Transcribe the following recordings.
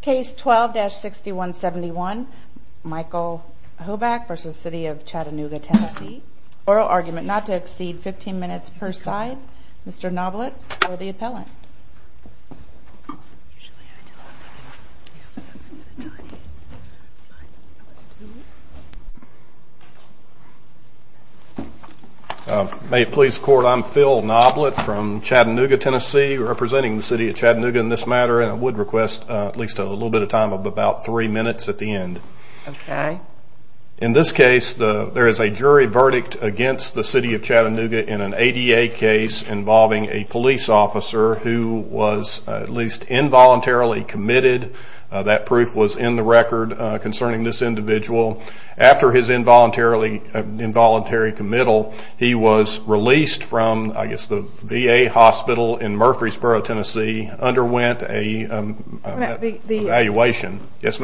Case 12-6171, Michael Hoback v. City of Chattanooga Tennessee. Oral argument not to exceed 15 minutes per side. Mr. Noblitt for the appellant. May it please the Court, I'm Phil Noblitt from Chattanooga, Tennessee, representing the City of Chattanooga in this matter, and I would request at least a little bit of time of about three minutes at the end. In this case, there is a jury verdict against the City of Chattanooga in an ADA case involving a police officer who was at least involuntarily committed. That proof was in the record concerning this individual. After his involuntary committal, he was released from the VA hospital in Murfreesboro, Tennessee, underwent an evaluation. That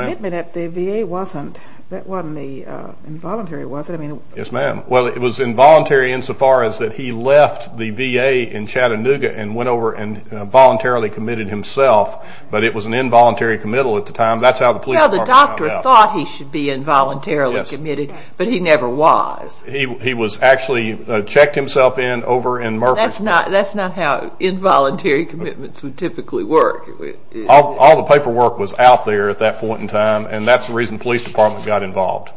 wasn't involuntary, was it? Yes, ma'am. Well, it was involuntary insofar as that he left the VA in Chattanooga and went over and voluntarily committed himself, but it was an involuntary committal at the time. That's how the police department found out. Well, the doctor thought he should be involuntarily committed, but he never was. He was actually checked himself in over in Murfreesboro. That's not how involuntary commitments would typically work. All the paperwork was out there at that point in time, and that's the reason the police department got involved.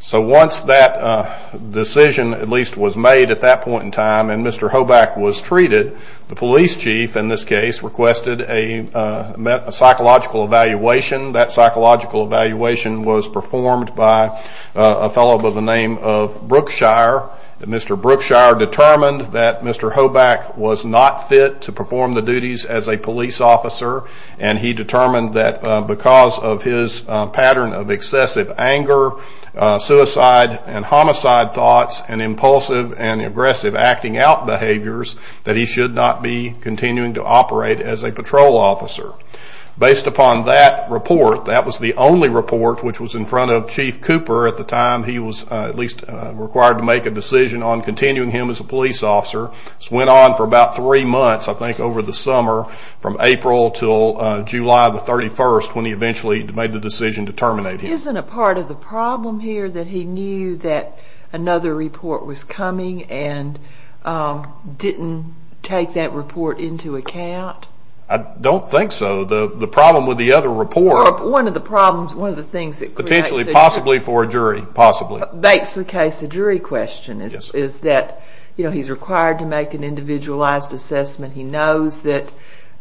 So once that decision at least was made at that point in time and Mr. Hoback was treated, the police chief in this case requested a psychological evaluation. That psychological evaluation was performed by a fellow by the name of Brookshire. Mr. Brookshire determined that Mr. Hoback was not fit to perform the duties as a police officer, and he determined that because of his pattern of excessive anger, suicide and homicide thoughts, and impulsive and aggressive acting out behaviors, that he should not be continuing to operate as a patrol officer. Based upon that report, that was the only report which was in front of Chief Cooper at the time he was at least required to make a decision on continuing him as a police officer. This went on for about three months, I think, over the summer from April to July the 31st when he eventually made the decision to terminate him. Isn't it part of the problem here that he knew that another report was coming and didn't take that report into account? I don't think so. The problem with the other report... One of the problems, one of the things that... Potentially, possibly for a jury, possibly. Makes the case a jury question is that, you know, he's required to make an individualized assessment. He knows that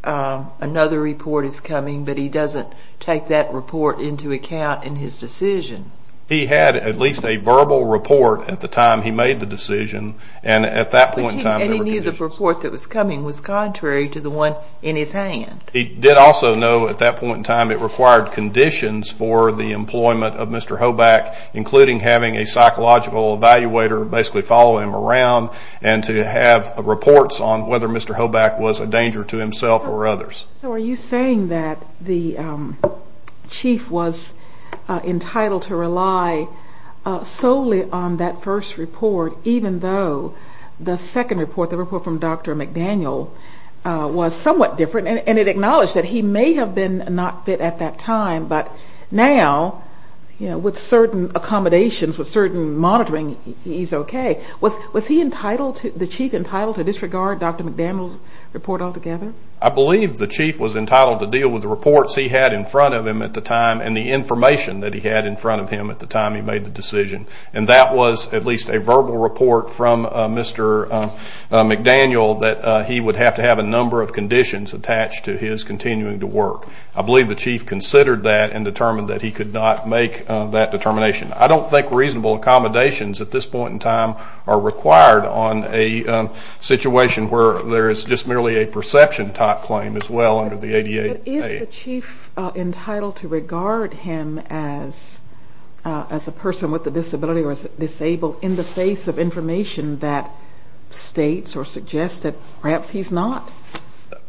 another report is coming, but he doesn't take that report into account in his decision. He had at least a verbal report at the time he made the decision, and at that point in time... He knew the report that was coming was contrary to the one in his hand. He did also know at that point in time it required conditions for the employment of Mr. Hoback, including having a psychological evaluator basically follow him around and to have reports on whether Mr. Hoback was a danger to himself or others. So are you saying that the chief was entitled to rely solely on that first report, even though the second report, the report from Dr. McDaniel, was somewhat different? And it acknowledged that he may have been not fit at that time, but now, you know, with certain accommodations, with certain monitoring, he's okay. Was he entitled, the chief, entitled to disregard Dr. McDaniel's report altogether? I believe the chief was entitled to deal with the reports he had in front of him at the time and the information that he had in front of him at the time he made the decision. And that was at least a verbal report from Mr. McDaniel that he would have to have a number of conditions attached to his continuing to work. I believe the chief considered that and determined that he could not make that determination. I don't think reasonable accommodations at this point in time are required on a situation where there is just merely a perception type claim as well under the ADA. But is the chief entitled to regard him as a person with a disability or as disabled in the face of information that states or suggests that perhaps he's not?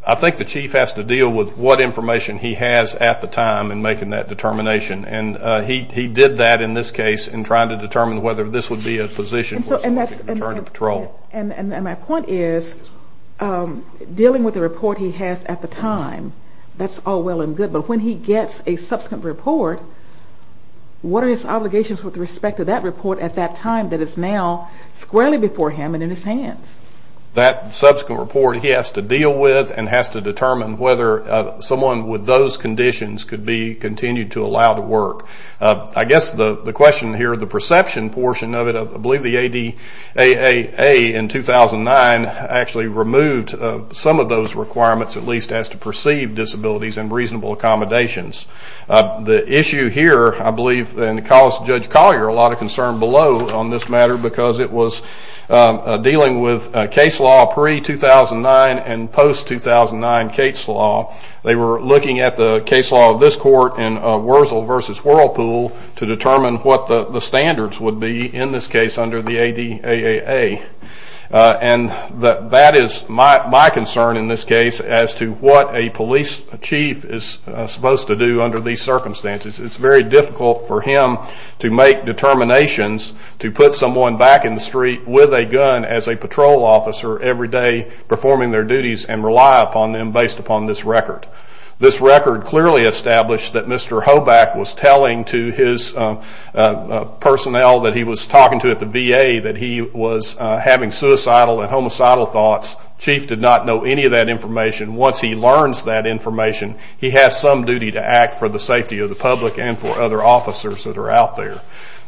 I think the chief has to deal with what information he has at the time in making that determination. And he did that in this case in trying to determine whether this would be a position for someone to return to patrol. And my point is dealing with the report he has at the time, that's all well and good. But when he gets a subsequent report, what are his obligations with respect to that report at that time that is now squarely before him and in his hands? That subsequent report he has to deal with and has to determine whether someone with those conditions could be continued to allow to work. I guess the question here, the perception portion of it, I believe the ADA in 2009 actually removed some of those requirements, at least as to perceived disabilities and reasonable accommodations. The issue here, I believe, and it caused Judge Collier a lot of concern below on this matter because it was dealing with case law pre-2009 and post-2009 case law. They were looking at the case law of this court in Worzel versus Whirlpool to determine what the standards would be in this case under the ADAA. And that is my concern in this case as to what a police chief is supposed to do under these circumstances. It's very difficult for him to make determinations to put someone back in the street with a gun as a patrol officer every day performing their duties and rely upon them based upon this record. This record clearly established that Mr. Hoback was telling to his personnel that he was talking to at the VA that he was having suicidal and homicidal thoughts. Chief did not know any of that information. Once he learns that information, he has some duty to act for the safety of the public and for other officers that are out there.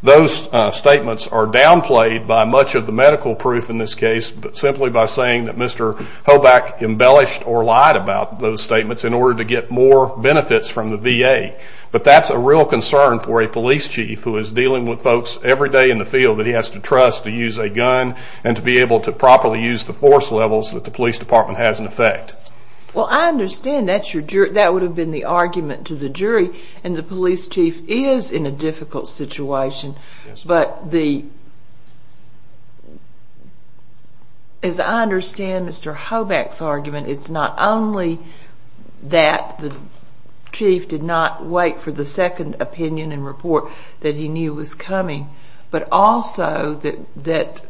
Those statements are downplayed by much of the medical proof in this case, but simply by saying that Mr. Hoback embellished or lied about those statements in order to get more benefits from the VA. But that's a real concern for a police chief who is dealing with folks every day in the field that he has to trust to use a gun and to be able to properly use the force levels that the police department has in effect. The police chief is in a difficult situation, but as I understand Mr. Hoback's argument, it's not only that the chief did not wait for the second opinion and report that he knew was coming, but also that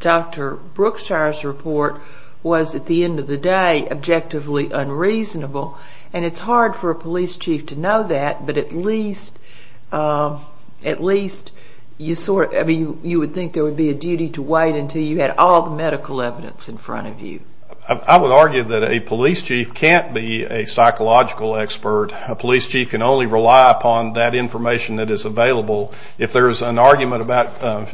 Dr. Brookshire's report was, at the end of the day, objectively unreasonable. And it's hard for a police chief to know that, but at least you would think there would be a duty to wait until you had all the medical evidence in front of you. I would argue that a police chief can't be a psychological expert. A police chief can only rely upon that information that is available. If there is an argument about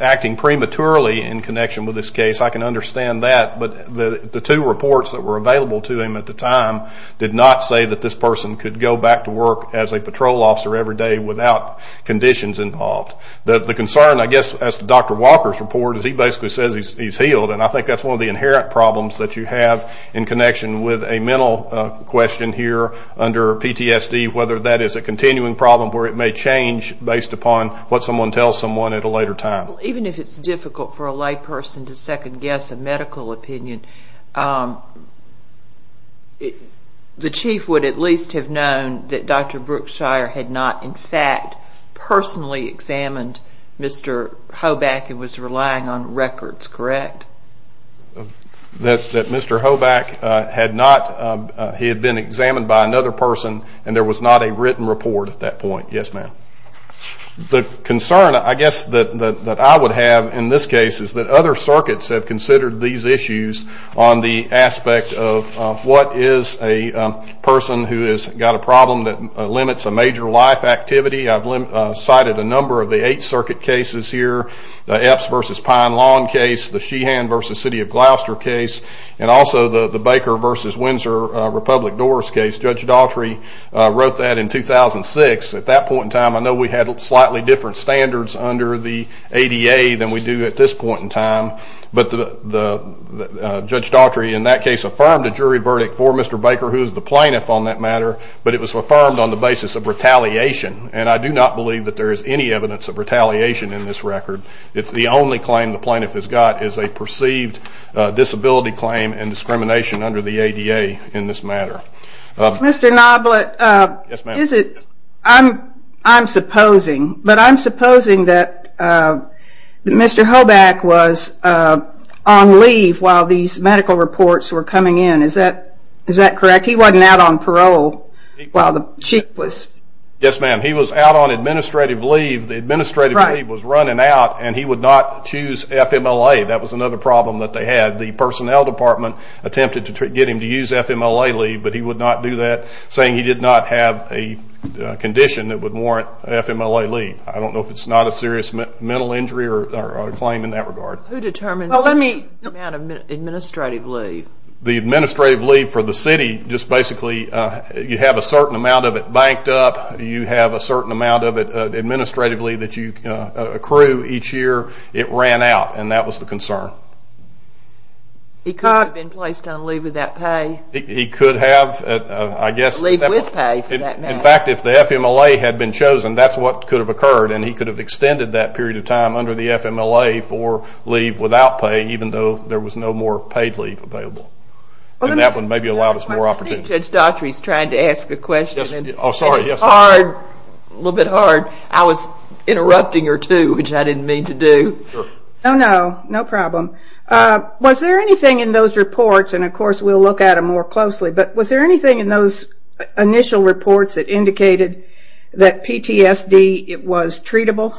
acting prematurely in connection with this case, I can understand that, but the two reports that were available to him at the time did not say that this person could go back to work as a patrol officer every day without conditions involved. The concern, I guess, as to Dr. Walker's report, is he basically says he's healed. And I think that's one of the inherent problems that you have in connection with a mental question here under PTSD, whether that is a continuing problem where it may change based upon what someone tells someone at a later time. Even if it's difficult for a lay person to second guess a medical opinion, the chief would at least have known that Dr. Brookshire had not, in fact, personally examined Mr. Hoback and was relying on records, correct? That Mr. Hoback had not, he had been examined by another person and there was not a written report at that point, yes, ma'am. The concern, I guess, that I would have in this case is that other circuits have considered these issues on the aspect of what is a person who has got a problem that limits a major life activity. I've cited a number of the Eighth Circuit cases here, the Epps versus Pine Lawn case, the Sheehan versus City of Gloucester case, and also the Baker versus Windsor Republic Doors case. Judge Daughtry wrote that in 2006. At that point in time, I know we had slightly different standards under the ADA than we do at this point in time, but Judge Daughtry in that case affirmed a jury verdict for Mr. Baker, who is the plaintiff on that matter, but it was affirmed on the basis of retaliation, and I do not believe that there is any evidence of retaliation in this record. The only claim the plaintiff has got is a perceived disability claim and discrimination under the ADA in this matter. Mr. Noblitt, I'm supposing that Mr. Hoback was on leave while these medical reports were coming in. Is that correct? He wasn't out on parole while the chief was? Yes, ma'am. He was out on administrative leave. The administrative leave was running out, and he would not choose FMLA. That was another problem that they had. The personnel department attempted to get him to use FMLA leave, but he would not do that, saying he did not have a condition that would warrant FMLA leave. I don't know if it's not a serious mental injury or a claim in that regard. Who determines the amount of administrative leave? The administrative leave for the city, just basically you have a certain amount of it banked up. You have a certain amount of it administratively that you accrue each year. It ran out, and that was the concern. He could have been placed on leave without pay. He could have, I guess. Leave with pay, for that matter. In fact, if the FMLA had been chosen, that's what could have occurred, and he could have extended that period of time under the FMLA for leave without pay, even though there was no more paid leave available. And that would have maybe allowed us more opportunity. I think Judge Daughtry is trying to ask a question, and it's hard, a little bit hard. I was interrupting her, too, which I didn't mean to do. Oh, no, no problem. Was there anything in those reports, and of course we'll look at them more closely, but was there anything in those initial reports that indicated that PTSD was treatable?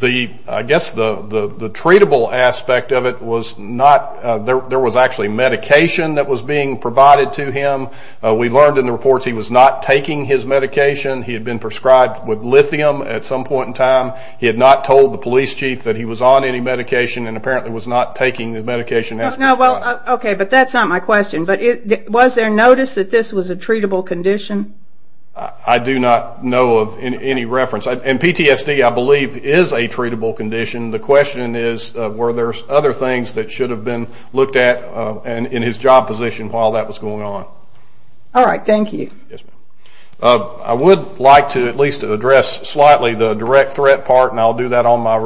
I guess the treatable aspect of it was not. There was actually medication that was being provided to him. We learned in the reports he was not taking his medication. He had been prescribed with lithium at some point in time. He had not told the police chief that he was on any medication and apparently was not taking the medication as prescribed. Okay, but that's not my question. But was there notice that this was a treatable condition? I do not know of any reference. And PTSD, I believe, is a treatable condition. The question is were there other things that should have been looked at in his job position while that was going on. All right, thank you. I would like to at least address slightly the direct threat part, and I'll do that on my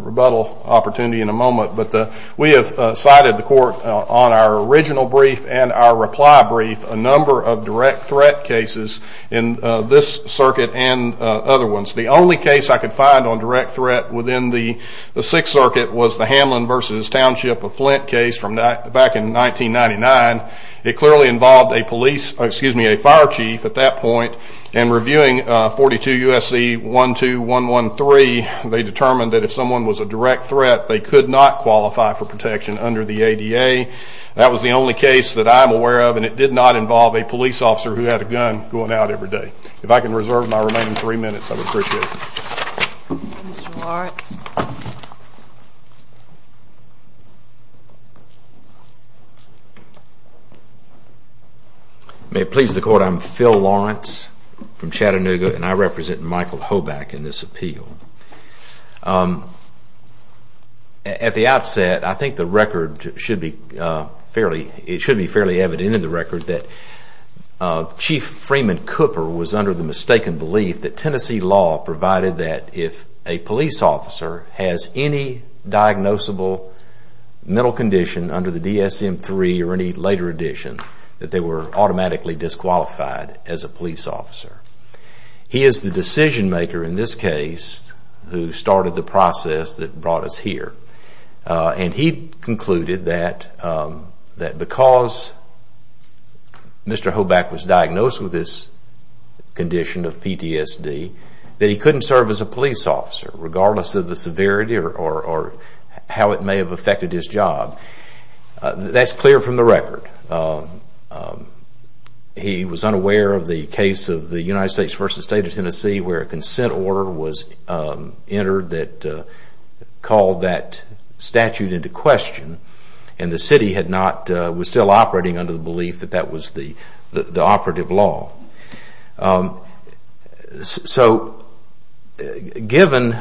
rebuttal opportunity in a moment. But we have cited the court on our original brief and our reply brief a number of direct threat cases in this circuit and other ones. The only case I could find on direct threat within the Sixth Circuit was the Hamlin v. Township of Flint case back in 1999. It clearly involved a police, excuse me, a fire chief at that point, and reviewing 42 U.S.C. 12113, they determined that if someone was a direct threat, they could not qualify for protection under the ADA. That was the only case that I'm aware of, and it did not involve a police officer who had a gun going out every day. If I can reserve my remaining three minutes, I would appreciate it. Mr. Lawrence. May it please the court, I'm Phil Lawrence from Chattanooga, and I represent Michael Hoback in this appeal. At the outset, I think the record should be fairly evident in the record that Chief Freeman Cooper was under the mistaken belief that Tennessee law provided that if a police officer has any diagnosable mental condition under the DSM-III or any later edition, that they were automatically disqualified as a police officer. He is the decision maker in this case who started the process that brought us here, and he concluded that because Mr. Hoback was diagnosed with this condition of PTSD, that he couldn't serve as a police officer, regardless of the severity or how it may have affected his job. That's clear from the record. He was unaware of the case of the United States v. State of Tennessee where a consent order was entered that called that statute into question, and the city was still operating under the belief that that was the operative law. So given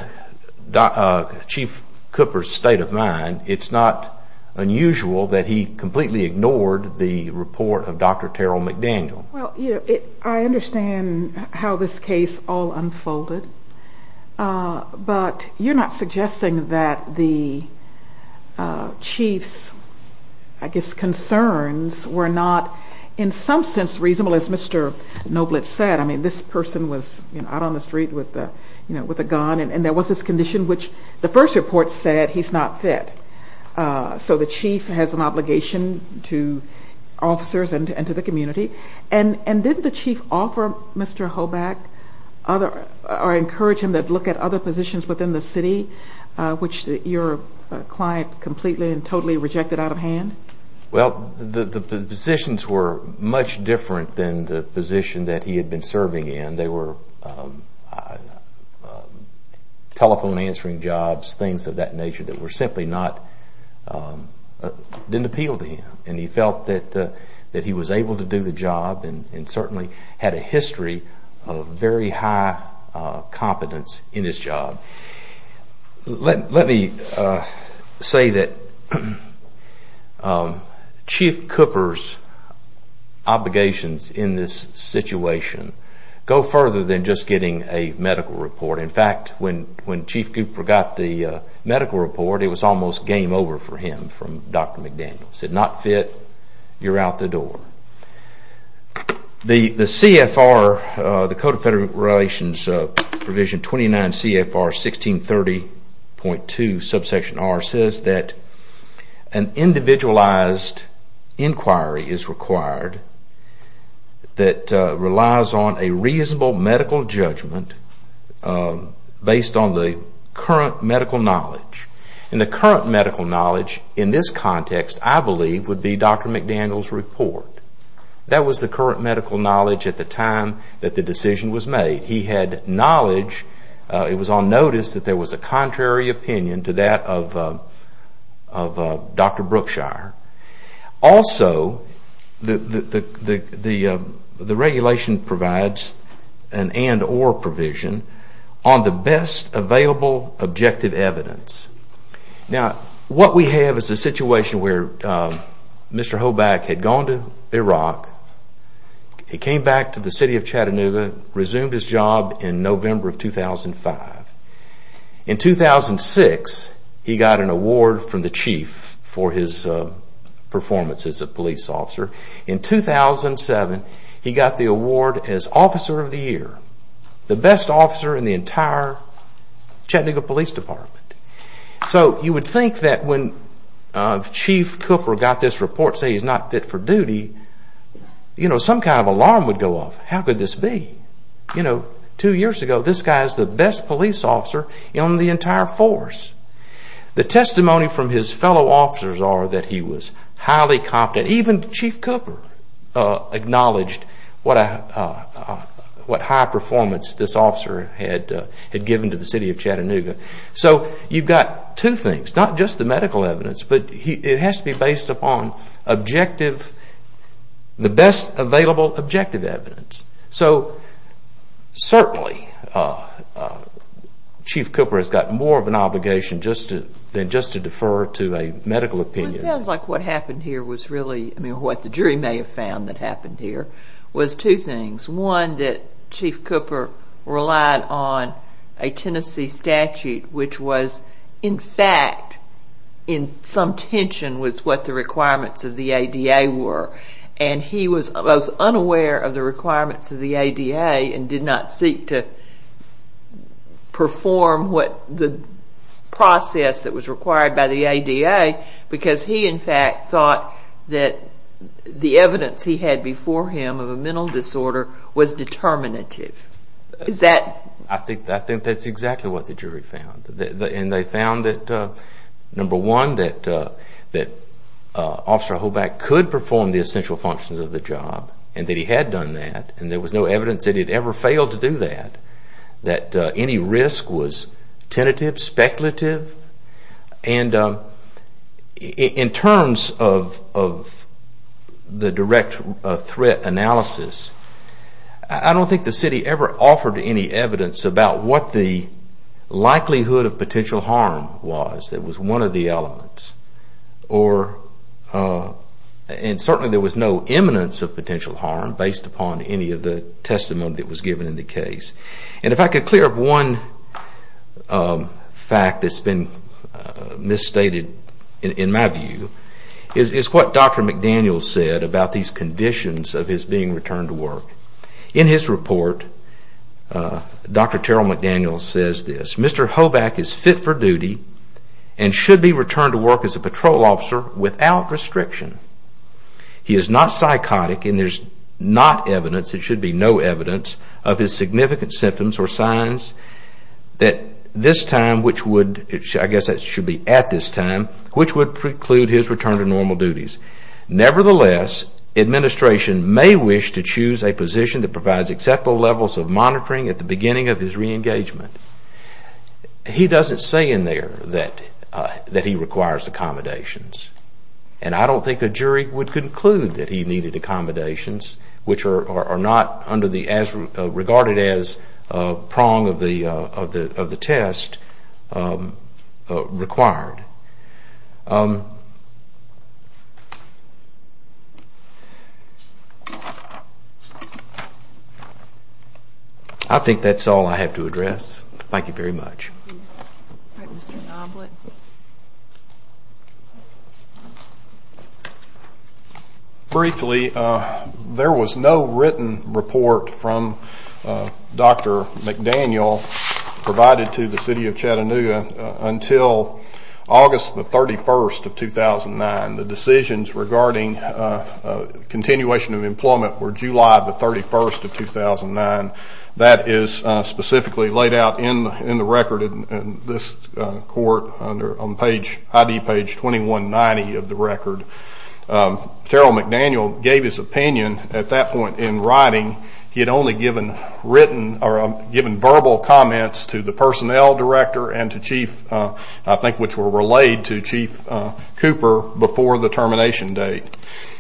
Chief Cooper's state of mind, it's not unusual that he completely ignored the report of Dr. Terrell McDaniel. I understand how this case all unfolded, but you're not suggesting that the chief's concerns were not in some sense reasonable, as Mr. Noblitt said. This person was out on the street with a gun, and there was this condition which the first report said he's not fit. So the chief has an obligation to officers and to the community. And didn't the chief offer Mr. Hoback, or encourage him to look at other positions within the city, which your client completely and totally rejected out of hand? Well, the positions were much different than the position that he had been serving in. They were telephone answering jobs, things of that nature, that simply didn't appeal to him. And he felt that he was able to do the job and certainly had a history of very high competence in his job. Let me say that Chief Cooper's obligations in this situation go further than just getting a medical report. In fact, when Chief Cooper got the medical report, it was almost game over for him from Dr. McDaniel. He said, not fit, you're out the door. The CFR, the Code of Federal Relations Provision 29 CFR 1630.2 subsection R says that an individualized inquiry is required that relies on a reasonable medical judgment based on the current medical knowledge. And the current medical knowledge in this context, I believe, would be Dr. McDaniel's report. That was the current medical knowledge at the time that the decision was made. He had knowledge, it was on notice, that there was a contrary opinion to that of Dr. Brookshire. Also, the regulation provides an and or provision on the best available objective evidence. Now, what we have is a situation where Mr. Hoback had gone to Iraq, he came back to the city of Chattanooga, resumed his job in November of 2005. In 2006, he got an award from the Chief for his performance as a police officer. In 2007, he got the award as Officer of the Year. The best officer in the entire Chattanooga Police Department. So you would think that when Chief Cooper got this report saying he's not fit for duty, some kind of alarm would go off. How could this be? Two years ago, this guy is the best police officer in the entire force. The testimony from his fellow officers are that he was highly competent. Even Chief Cooper acknowledged what high performance this officer had given to the city of Chattanooga. So you've got two things. Not just the medical evidence, but it has to be based upon objective, the best available objective evidence. So certainly, Chief Cooper has got more of an obligation than just to defer to a medical opinion. It sounds like what the jury may have found that happened here was two things. One, that Chief Cooper relied on a Tennessee statute, which was, in fact, in some tension with what the requirements of the ADA were. And he was both unaware of the requirements of the ADA and did not seek to perform the process that was required by the ADA because he, in fact, thought that the evidence he had before him of a mental disorder was determinative. I think that's exactly what the jury found. And they found that, number one, that Officer Hoback could perform the essential functions of the job and that he had done that and there was no evidence that he had ever failed to do that, that any risk was tentative, speculative. And in terms of the direct threat analysis, I don't think the city ever offered any evidence about what the likelihood of potential harm was. That was one of the elements. And certainly there was no imminence of potential harm based upon any of the testimony that was given in the case. And if I could clear up one fact that's been misstated, in my view, is what Dr. McDaniel said about these conditions of his being returned to work. In his report, Dr. Terrell McDaniel says this, Mr. Hoback is fit for duty and should be returned to work as a patrol officer without restriction. He is not psychotic and there's not evidence, there should be no evidence of his significant symptoms or signs that this time, which would, I guess that should be at this time, which would preclude his return to normal duties. Nevertheless, administration may wish to choose a position that provides acceptable levels of monitoring at the beginning of his re-engagement. He doesn't say in there that he requires accommodations. And I don't think a jury would conclude that he needed accommodations which are not under the as regarded as prong of the test required. I think that's all I have to address. Thank you very much. All right, Mr. Noblitt. Briefly, there was no written report from Dr. McDaniel provided to the City of Chattanooga until August the 31st of 2009. The decisions regarding continuation of employment were July the 31st of 2009. That is specifically laid out in the record in this court under ID page 2190 of the record. Terrell McDaniel gave his opinion at that point in writing. He had only given verbal comments to the personnel director and to Chief, I think which were relayed to Chief Cooper before the termination date.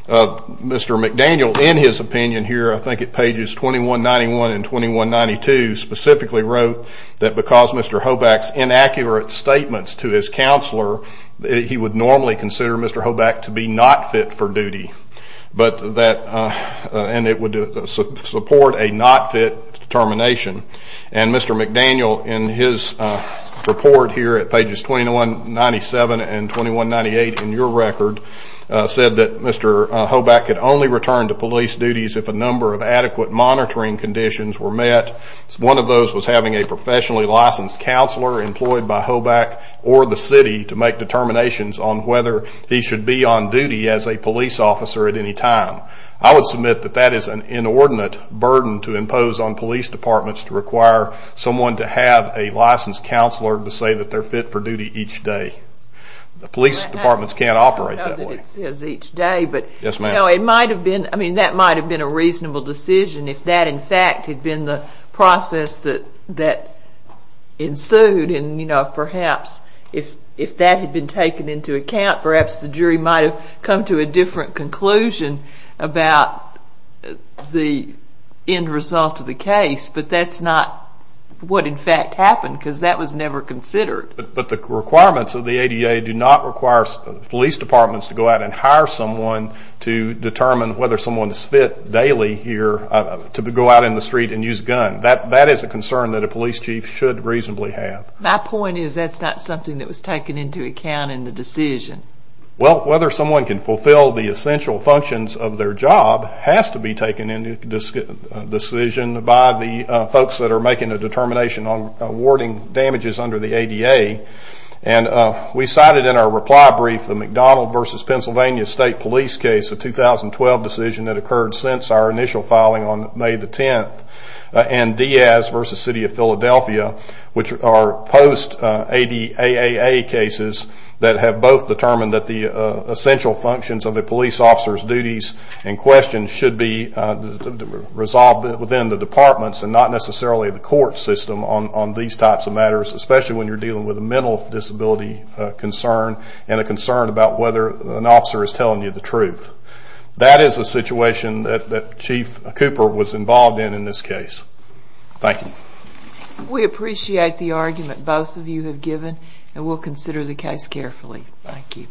Mr. McDaniel in his opinion here, I think at pages 2191 and 2192, specifically wrote that because Mr. Hoback's inaccurate statements to his counselor, he would normally consider Mr. Hoback to be not fit for duty and it would support a not fit termination. And Mr. McDaniel in his report here at pages 2197 and 2198 in your record said that Mr. Hoback could only return to police duties if a number of adequate monitoring conditions were met. One of those was having a professionally licensed counselor employed by Hoback or the city to make determinations on whether he should be on duty as a police officer at any time. I would submit that that is an inordinate burden to impose on police departments to require someone to have a licensed counselor to say that they're fit for duty each day. Police departments can't operate that way. I know that it says each day, but it might have been a reasonable decision if that in fact had been the process that ensued. And perhaps if that had been taken into account, perhaps the jury might have come to a different conclusion about the end result of the case. But that's not what in fact happened because that was never considered. But the requirements of the ADA do not require police departments to go out and hire someone to determine whether someone is fit daily here to go out in the street and use a gun. That is a concern that a police chief should reasonably have. My point is that's not something that was taken into account in the decision. Well, whether someone can fulfill the essential functions of their job has to be taken into decision by the folks that are making a determination on awarding damages under the ADA. And we cited in our reply brief the McDonald v. Pennsylvania State Police case, a 2012 decision that occurred since our initial filing on May the 10th, and Diaz v. City of Philadelphia, which are post-ADAA cases that have both determined that the essential functions of a police officer's duties and questions should be resolved within the departments and not necessarily the court system on these types of matters, especially when you're dealing with a mental disability concern and a concern about whether an officer is telling you the truth. That is a situation that Chief Cooper was involved in in this case. Thank you. We appreciate the argument both of you have given, and we'll consider the case carefully. Thank you.